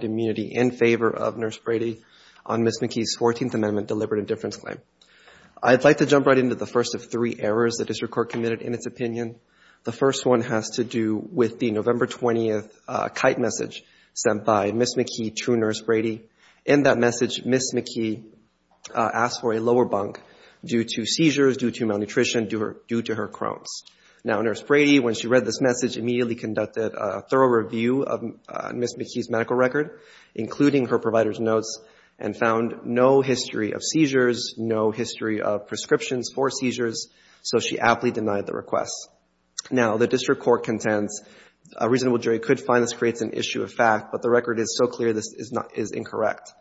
immunity in favor of nurse Brady on Miss McKee's 14th amendment deliberate indifference claim. I'd like to jump right into the first of three errors that is your court committed in its opinion. The first one has to do with the November 20th kite message sent by Miss McKee to nurse Brady. In that message Miss McKee asked for a lower bunk due to seizures, due to malnutrition, due to her Crohn's. Now nurse Brady when she read this message immediately conducted a thorough review of Miss McKee's medical record including her provider's notes and found no history of seizures, no history of prescriptions for seizures, so she aptly denied the request. Now the district court contends a reasonable jury could find this creates an issue of fact but the record is so clear this is not is incorrect.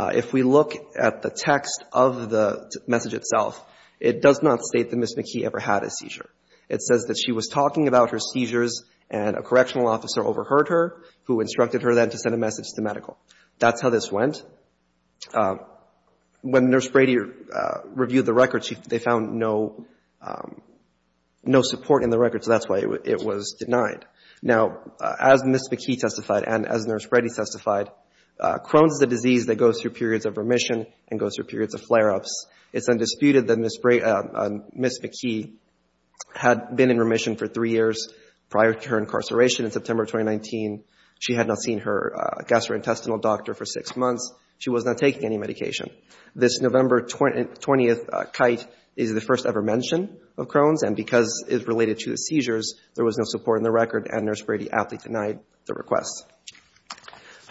If we look at the text of the message itself it does not state that Miss McKee ever had a seizure. It says that she was talking about her seizures and a correctional officer overheard her who instructed her then to send a message to medical. That's how this went. When nurse Brady reviewed the records they found no support in the records that's why it was denied. Now as Miss McKee testified and as nurse Brady testified, Crohn's is a disease that goes through periods of remission and goes through periods of flare-ups. It's undisputed that Miss McKee had been in remission for three years prior to her incarceration in September 2019. She had not seen her gastrointestinal doctor for six months. She was not taking any medication. This November 20th kite is the first ever mention of Crohn's and because it's related to the seizures there was no support in the record and nurse Brady aptly denied the request.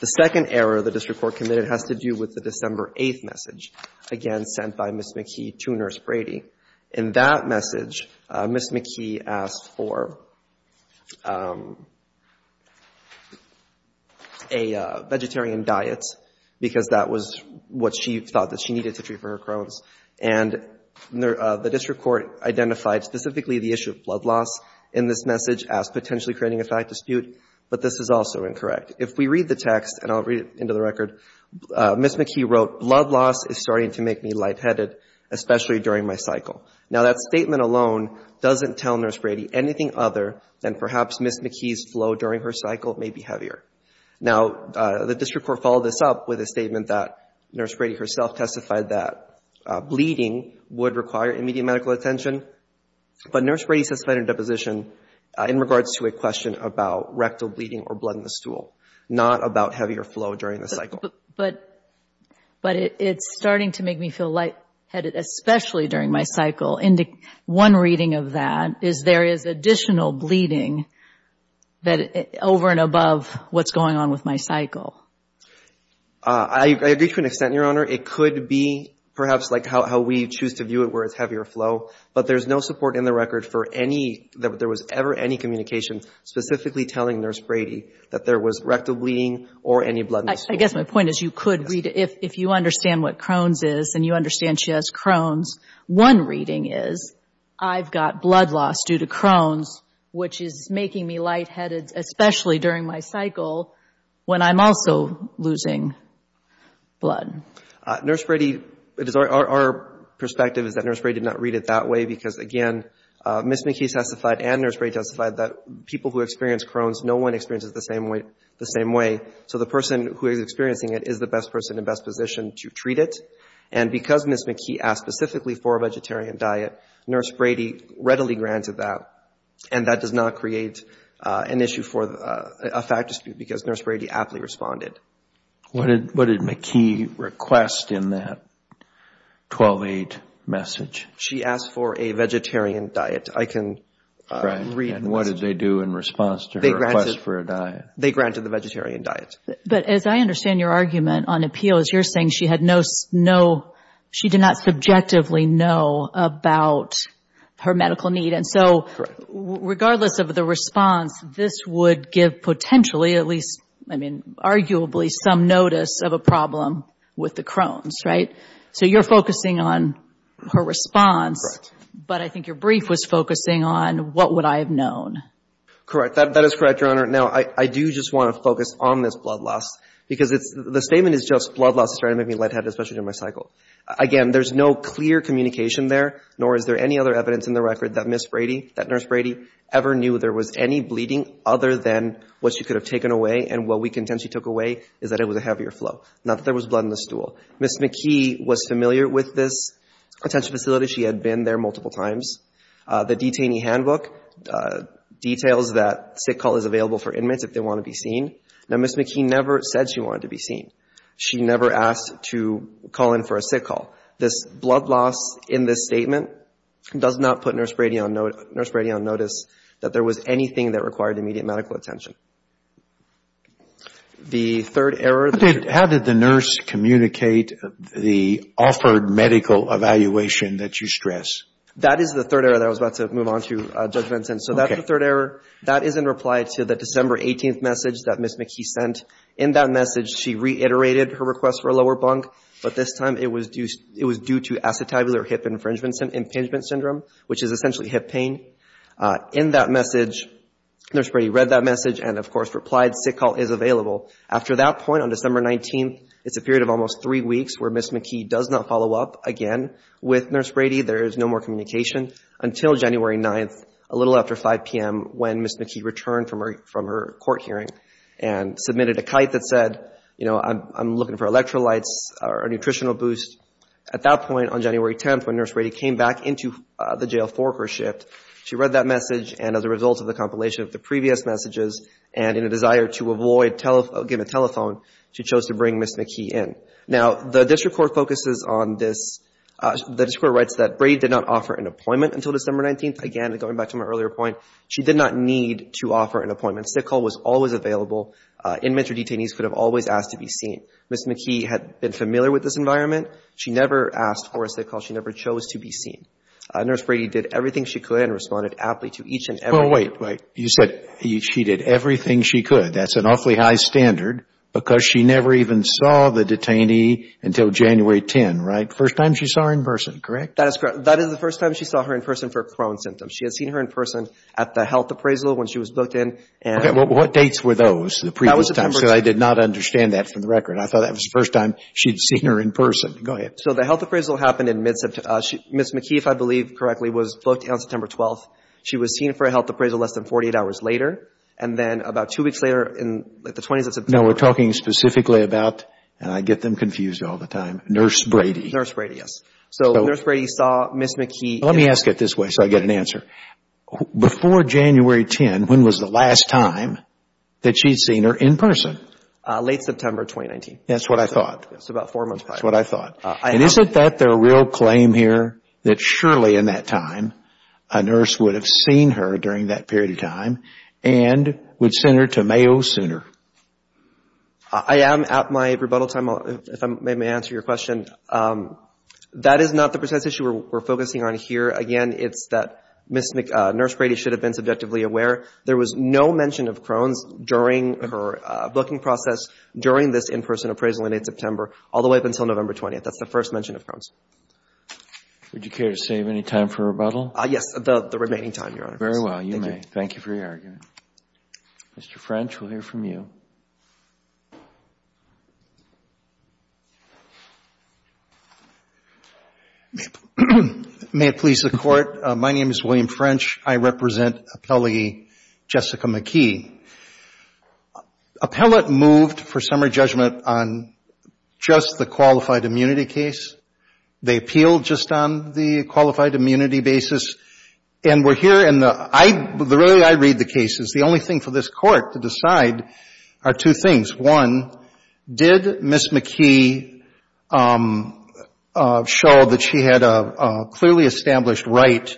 The second error the district court committed has to do with the December 8th message again sent by Miss McKee to nurse Brady. In that message Miss McKee asked for a vegetarian diet because that was what she thought that she needed to treat for her Crohn's and the district court identified specifically the issue of blood loss in this message as potentially creating a fact dispute but this is also incorrect. If we read the text and I'll read into the record Miss McKee wrote blood loss is starting to make me lightheaded especially during my cycle. Now that statement alone doesn't tell nurse Brady anything other than perhaps Miss McKee's flow during her cycle may be heavier. Now the district court followed this up with a statement that nurse Brady herself testified that bleeding would require immediate medical attention but nurse Brady testified in deposition in regards to a question about rectal bleeding or blood in the but it's starting to make me feel lightheaded especially during my cycle. One reading of that is there is additional bleeding that over and above what's going on with my cycle. I agree to an extent your honor it could be perhaps like how we choose to view it where it's heavier flow but there's no support in the record for any there was ever any communication specifically telling nurse Brady that there was rectal bleeding or any blood. I guess my point is you could read if you understand what Crohn's is and you understand she has Crohn's one reading is I've got blood loss due to Crohn's which is making me lightheaded especially during my cycle when I'm also losing blood. Nurse Brady it is our perspective is that nurse Brady did not read it that way because again Miss McKee testified and nurse Brady testified that people who experience Crohn's no one experiences the same way the same way so the person who is experiencing it is the best person in best position to treat it and because Miss McKee asked specifically for a vegetarian diet nurse Brady readily granted that and that does not create an issue for a fact dispute because nurse Brady aptly responded. What did McKee request in that 12-8 message? She asked for a vegetarian diet. I can read. What did they do in response to her request for a diet? They granted the diet. But as I understand your argument on appeal is you're saying she had no no she did not subjectively know about her medical need and so regardless of the response this would give potentially at least I mean arguably some notice of a problem with the Crohn's right? So you're focusing on her response but I think your brief was focusing on what would I have known. Correct that is correct your honor. Now I do just want to focus on this blood loss because it's the statement is just blood loss started making me lightheaded especially in my cycle. Again there's no clear communication there nor is there any other evidence in the record that Miss Brady that nurse Brady ever knew there was any bleeding other than what she could have taken away and what we contend she took away is that it was a heavier flow. Not that there was blood in the stool. Miss McKee was familiar with this attention facility. She had been there multiple times. The detainee handbook details that sick call is available for inmates if they want to be seen. Now Miss McKee never said she wanted to be seen. She never asked to call in for a sick call. This blood loss in this statement does not put nurse Brady on notice that there was anything that required immediate medical attention. The third error. How did the nurse communicate the offered medical evaluation that you stress? That is the third error that I was about to move on to Judge Benson. So that's the third error. That is in reply to the December 18th message that Miss McKee sent. In that message she reiterated her request for a lower bunk but this time it was due to acetabular hip infringement syndrome impingement syndrome which is essentially hip pain. In that message nurse Brady read that message and of course replied sick call is available. After that point on December 19th it's a period of almost three weeks where Miss McKee does not follow up again with nurse Brady. There is no more communication until January 9th a little after 5 p.m. when Miss McKee returned from her court hearing and submitted a kite that said you know I'm looking for electrolytes or a nutritional boost. At that point on January 10th when nurse Brady came back into the jail for her shift she read that message and as a result of the compilation of the previous messages and in a desire to avoid giving a telephone she chose to bring Miss McKee in. Now the district court focuses on this. The district court writes that Brady did not offer an appointment until December 19th. Again going back to my earlier point she did not need to offer an appointment. Sick call was always available. Inmate or detainees could have always asked to be seen. Miss McKee had been familiar with this environment. She never asked for a sick call. She never chose to be seen. Nurse Brady did everything she could and responded aptly to each and every... That's an awfully high standard because she never even saw the detainee until January 10, right? First time she saw her in person, correct? That is correct. That is the first time she saw her in person for Crohn's symptoms. She had seen her in person at the health appraisal when she was booked in and... What dates were those the previous time? I did not understand that from the record. I thought that was the first time she'd seen her in person. Go ahead. So the health appraisal happened in mid-September. Miss McKee, if I believe correctly, was booked on September 12th. She was seen for a health appraisal less than 48 hours later and then about two weeks later in the 20s... No, we're talking specifically about, and I get them confused all the time, Nurse Brady. Nurse Brady, yes. So Nurse Brady saw Miss McKee... Let me ask it this way so I get an answer. Before January 10, when was the last time that she'd seen her in person? Late September 2019. That's what I thought. That's about four months prior. That's what I thought. And isn't that the real claim here that surely in that time a nurse would have seen her during that period of time and would send her to Mayo sooner? I am at my rebuttal time if I may answer your question. That is not the precise issue we're focusing on here. Again, it's that Nurse Brady should have been subjectively aware. There was no mention of Crohn's during her booking process during this in-person appraisal in late September all the way up until November 20th. That's the first mention of Crohn's. Would I have any time, Your Honor? Very well, you may. Thank you for your argument. Mr. French, we'll hear from you. May it please the Court, my name is William French. I represent appellee Jessica McKee. Appellate moved for summary judgment on just the qualified immunity basis. And we're here and the way I read the case is the only thing for this Court to decide are two things. One, did Ms. McKee show that she had a clearly established right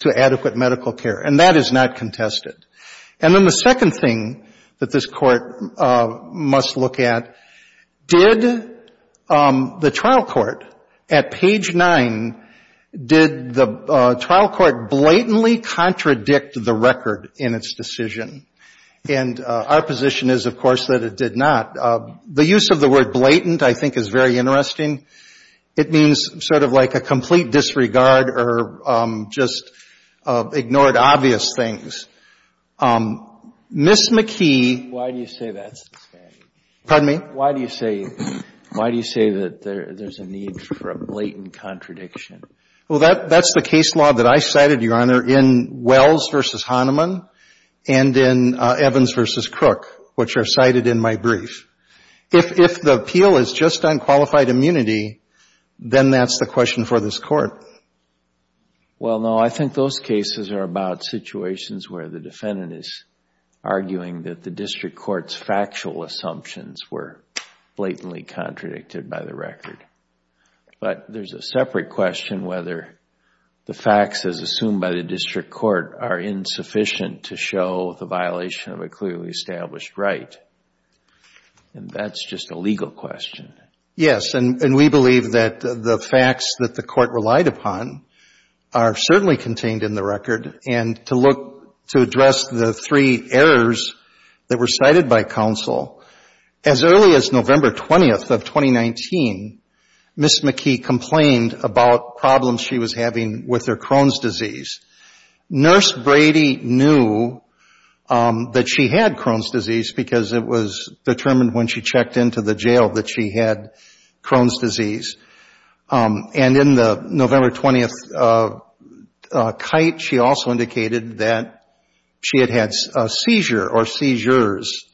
to adequate medical care? And that is not contested. And then the second thing that this Court must look at, did the trial court at page 9, did the trial court blatantly contradict the record in its decision? And our position is, of course, that it did not. The use of the word blatant, I think, is very interesting. It means sort of like a complete disregard or just ignored obvious things. Ms. McKee... Why do you say that? Pardon me? Why do you say that there's a need for a blatant contradiction? Well, that's the case law that I cited, Your Honor, in Wells v. Hahnemann and in Evans v. Crook, which are cited in my brief. If the appeal is just on qualified immunity, then that's the question for this Court. Well, no, I think those cases are about situations where the defendant is arguing that the district court's factual assumptions were blatantly contradicted by the record. But there's a separate question whether the facts as assumed by the district court are insufficient to show the violation of a clearly established right. And that's just a legal question. Yes, and we believe that the facts that the court relied upon are certainly contained in the record. And to look, to address the three errors that were cited by counsel, as early as November 20th of 2019, Ms. McKee complained about problems she was having with her Crohn's disease. Nurse Brady knew that she had Crohn's disease because it was determined when she into the jail that she had Crohn's disease. And in the November 20th kite, she also indicated that she had had a seizure or seizures.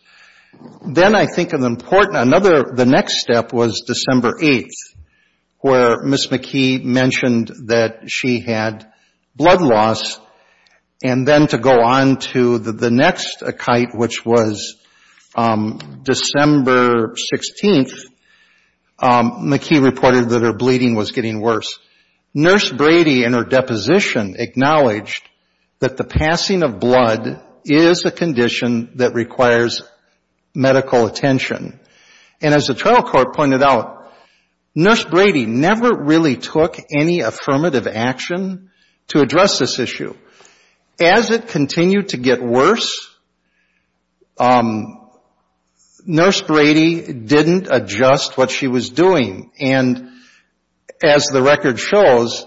Then I think an important, another, the next step was December 8th, where Ms. McKee mentioned that she had blood loss. And then to go on to the next kite, which was December 16th, McKee reported that her bleeding was getting worse. Nurse Brady, in her deposition, acknowledged that the passing of blood is a condition that requires medical attention. And as the trial court pointed out, Nurse Brady never really took any affirmative action to address this issue. As it continued to get worse, Nurse Brady didn't adjust what she was doing. And as the record shows,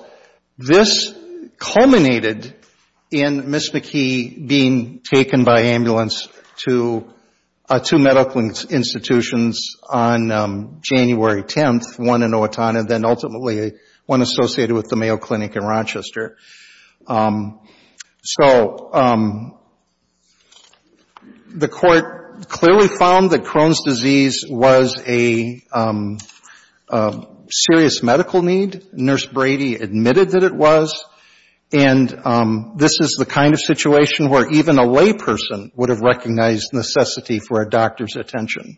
this culminated in Ms. McKee being taken by ambulance to two medical institutions on January 10th, one in Owatonna and then ultimately one associated with the Mayo Clinic in Rochester. So the court clearly found that Crohn's disease was a serious medical need. Nurse Brady admitted that it was. And this is the kind of situation where even a layperson would have recognized necessity for a doctor's attention.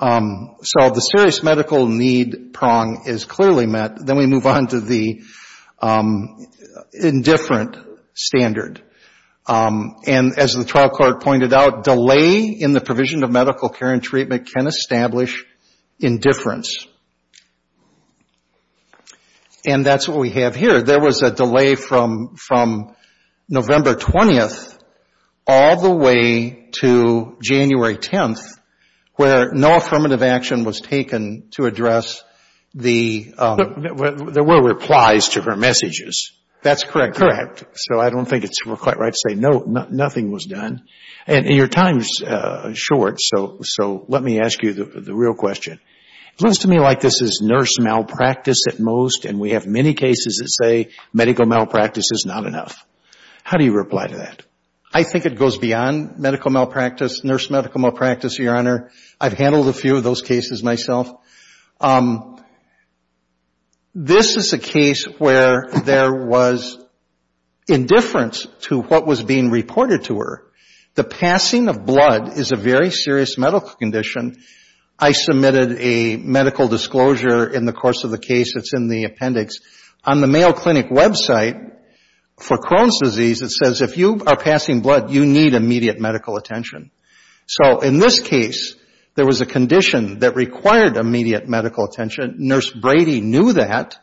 So the serious medical need prong is clearly met. Then we move on to the indifferent standard. And as the trial court pointed out, delay in the provision of medical care and treatment can establish indifference. And that's what we have here. There was a delay from November 20th all the way to January 10th, where no affirmative action was taken to address the... But there were replies to her messages. That's correct. So I don't think it's quite right to say no, nothing was done. And your time is short, so let me ask you the real question. It looks to me like this is nurse malpractice at most, and we have many cases that say medical malpractice is not enough. How do you reply to that? I think it goes beyond medical malpractice, nurse medical malpractice, Your Honor. I've handled a few of those cases myself. This is a case where there was indifference to what was being reported to her. The passing of blood is a very serious medical condition. I submitted a medical disclosure in the course of the case. It's in the appendix. On the Mayo Clinic website for Crohn's disease, it says if you are passing blood, you need immediate medical attention. So in this case, there was a condition that required immediate medical attention. Nurse Brady knew that.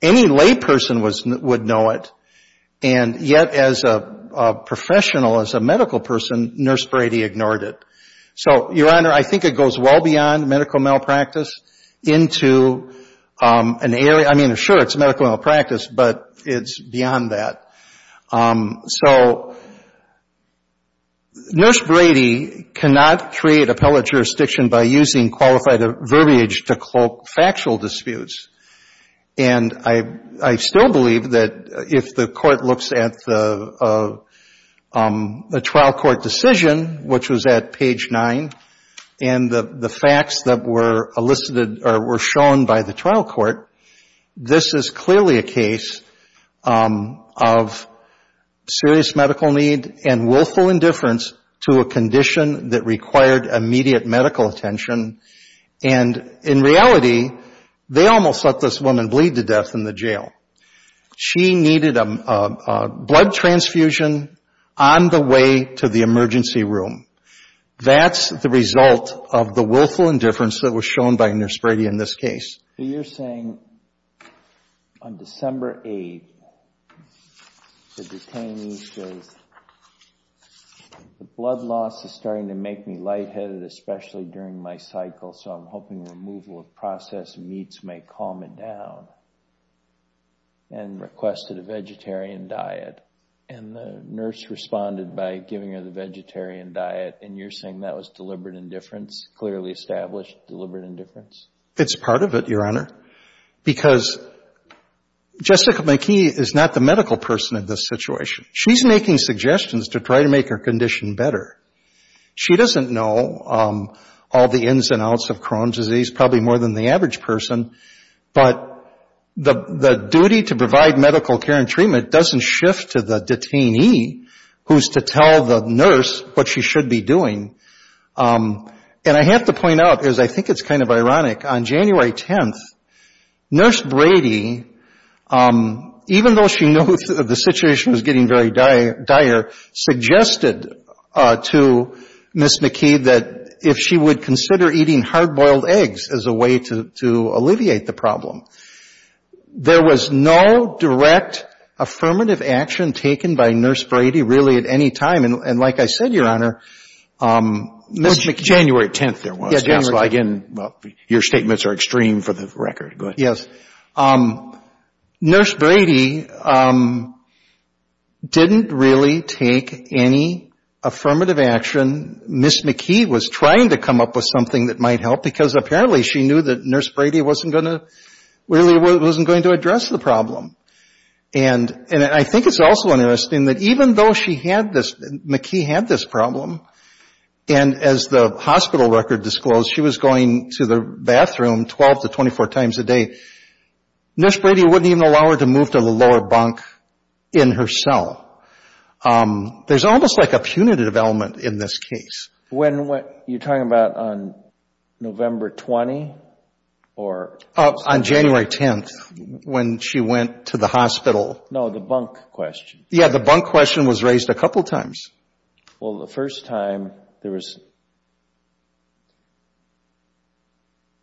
Any lay person would know it. And yet as a professional, as a medical person, nurse Brady ignored it. So Your Honor, I think it goes well beyond medical malpractice into an area, I mean sure it's medical malpractice, but it's beyond that. So nurse Brady cannot create appellate jurisdiction by using qualified verbiage to cloak factual disputes. And I still believe that if the court looks at the trial court decision, which was at page 9, and the facts that were elicited or were shown by the trial court, this is clearly a case of serious medical need and willful indifference to a condition that required immediate medical attention. And in reality, they almost let this woman bleed to death in the jail. She needed a blood transfusion on the way to the emergency room. That's the result of the willful indifference that was shown by nurse Brady in this case. So you're saying on December 8, the detainee says the blood loss is starting to make me cycle, so I'm hoping removal of processed meats may calm it down, and requested a vegetarian diet. And the nurse responded by giving her the vegetarian diet, and you're saying that was deliberate indifference, clearly established deliberate indifference? It's part of it, Your Honor, because Jessica McKee is not the medical person in this situation. She's making suggestions to try to make her condition better. She doesn't know all the ins and outs of Crohn's disease, probably more than the average person, but the duty to provide medical care and treatment doesn't shift to the detainee, who's to tell the nurse what she should be doing. And I have to point out, because I think it's kind of ironic, on January 10, nurse Brady, even though she knows that the situation was getting very dire, suggested to Ms. McKee that if she would consider eating hard-boiled eggs as a way to alleviate the problem. There was no direct affirmative action taken by nurse Brady really at any time. And like I said, Your Honor, Ms. McKee January 10 there was. Your statements are extreme for the record. Nurse Brady didn't really take any affirmative action. Ms. McKee was trying to come up with something that might help, because apparently she knew that nurse Brady really wasn't going to address the problem. And I think it's also interesting that even though McKee had this problem, and as the hospital record disclosed, she was going to the bathroom 12 to 24 times a day. Nurse Brady wouldn't even allow her to move to the lower bunk in her cell. There's almost like a punitive element in this case. When, you're talking about on November 20? On January 10, when she went to the hospital. No, the bunk question. Yeah, the bunk question was raised a couple times. Well, the first time there was,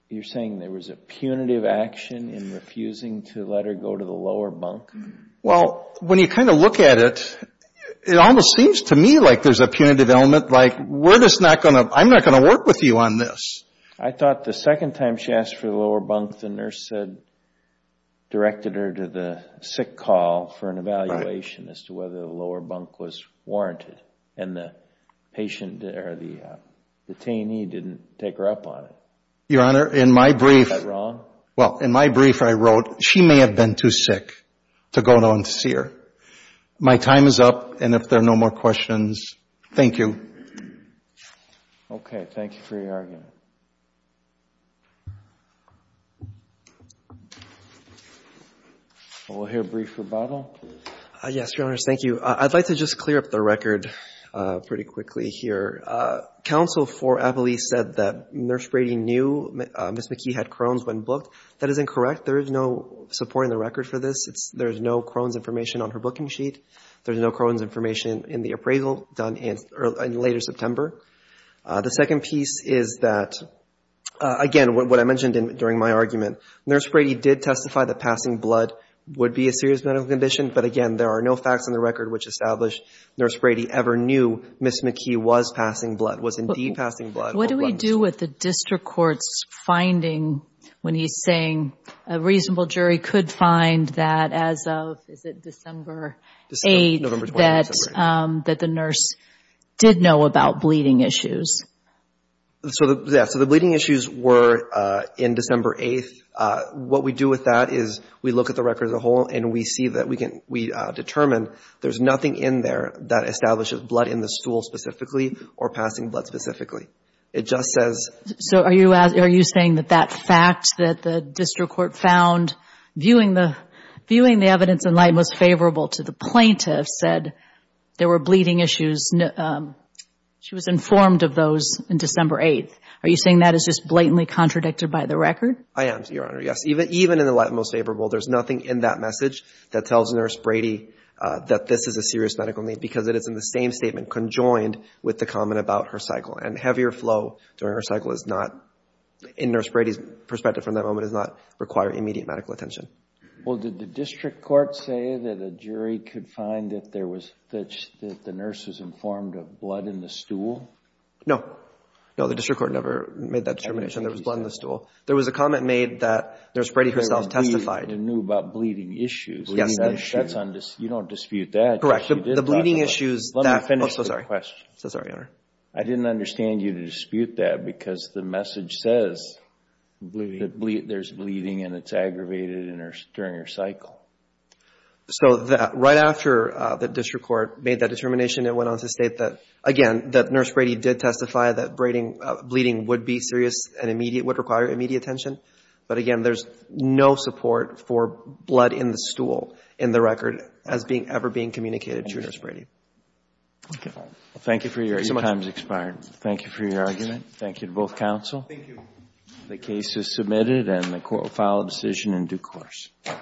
you're saying there was a punitive action in refusing to let her go to the lower bunk? Well, when you kind of look at it, it almost seems to me like there's a punitive element like we're just not going to, I'm not going to work with you on this. I thought the second time she asked for the lower bunk, the nurse said, directed her to the sick call for an evaluation as to whether the lower bunk was warranted. And the patient or the detainee didn't take her up on it. Your Honor, in my brief, I wrote, she may have been too sick to go down to see her. My time is up, and if there are no more questions, thank you. Okay, thank you for your argument. We'll hear a brief rebuttal. Yes, Your Honor, thank you. I'd like to just clear up the record pretty quickly here. Counsel for Avelis said that Nurse Brady knew Ms. McKee had Crohn's when booked. That is incorrect. There is no support in the record for this. There is no Crohn's information on her booking sheet. There's no Crohn's information in the appraisal done in later September. The second piece is that, again, what I mentioned during my argument, Nurse Brady did testify that passing blood would be a serious medical condition. But again, there are no facts in the record which establish Nurse Brady ever knew Ms. McKee was passing blood, was indeed passing blood. What do we do with the district court's finding when he's saying a reasonable jury could find that as of, is it December 8th, that the nurse did know about bleeding issues? Yes, so the bleeding issues were in December 8th. What we do with that is we look at the record as a whole and we see that we determine there's nothing in there that establishes blood in the stool specifically or passing blood specifically. It just says... So are you saying that that fact that the district court found viewing the evidence in light most favorable to the plaintiff said there were bleeding issues? She was informed of those in December 8th. Are you saying that is just blatantly contradicted by the record? I am, Your Honor, yes. Even in the light most favorable, there's nothing in that message that tells Nurse Brady that this is a serious medical need because it is in the same statement conjoined with the comment about her cycle. And heavier flow during her cycle is not, in Nurse Brady's perspective from that moment, is not requiring immediate medical attention. Well, did the district court say that a jury could find that the nurse was informed of the bleeding issues? No. No, the district court never made that determination. There was blood in the stool. There was a comment made that Nurse Brady herself testified. That she knew about bleeding issues. Yes, that's true. You don't dispute that. Correct. The bleeding issues... Let me finish the question. I'm so sorry. I'm so sorry, Your Honor. I didn't understand you to dispute that because the message says there's bleeding and it's aggravated during her cycle. So, right after the district court made that determination, it went on to state that, again, that Nurse Brady did testify that bleeding would be serious and would require immediate attention. But again, there's no support for blood in the stool in the record as ever being communicated to Nurse Brady. Thank you for your argument. Your time has expired. Thank you for your argument. Thank you to both counsel. The case is submitted and the court will file a decision in due course. Thank you.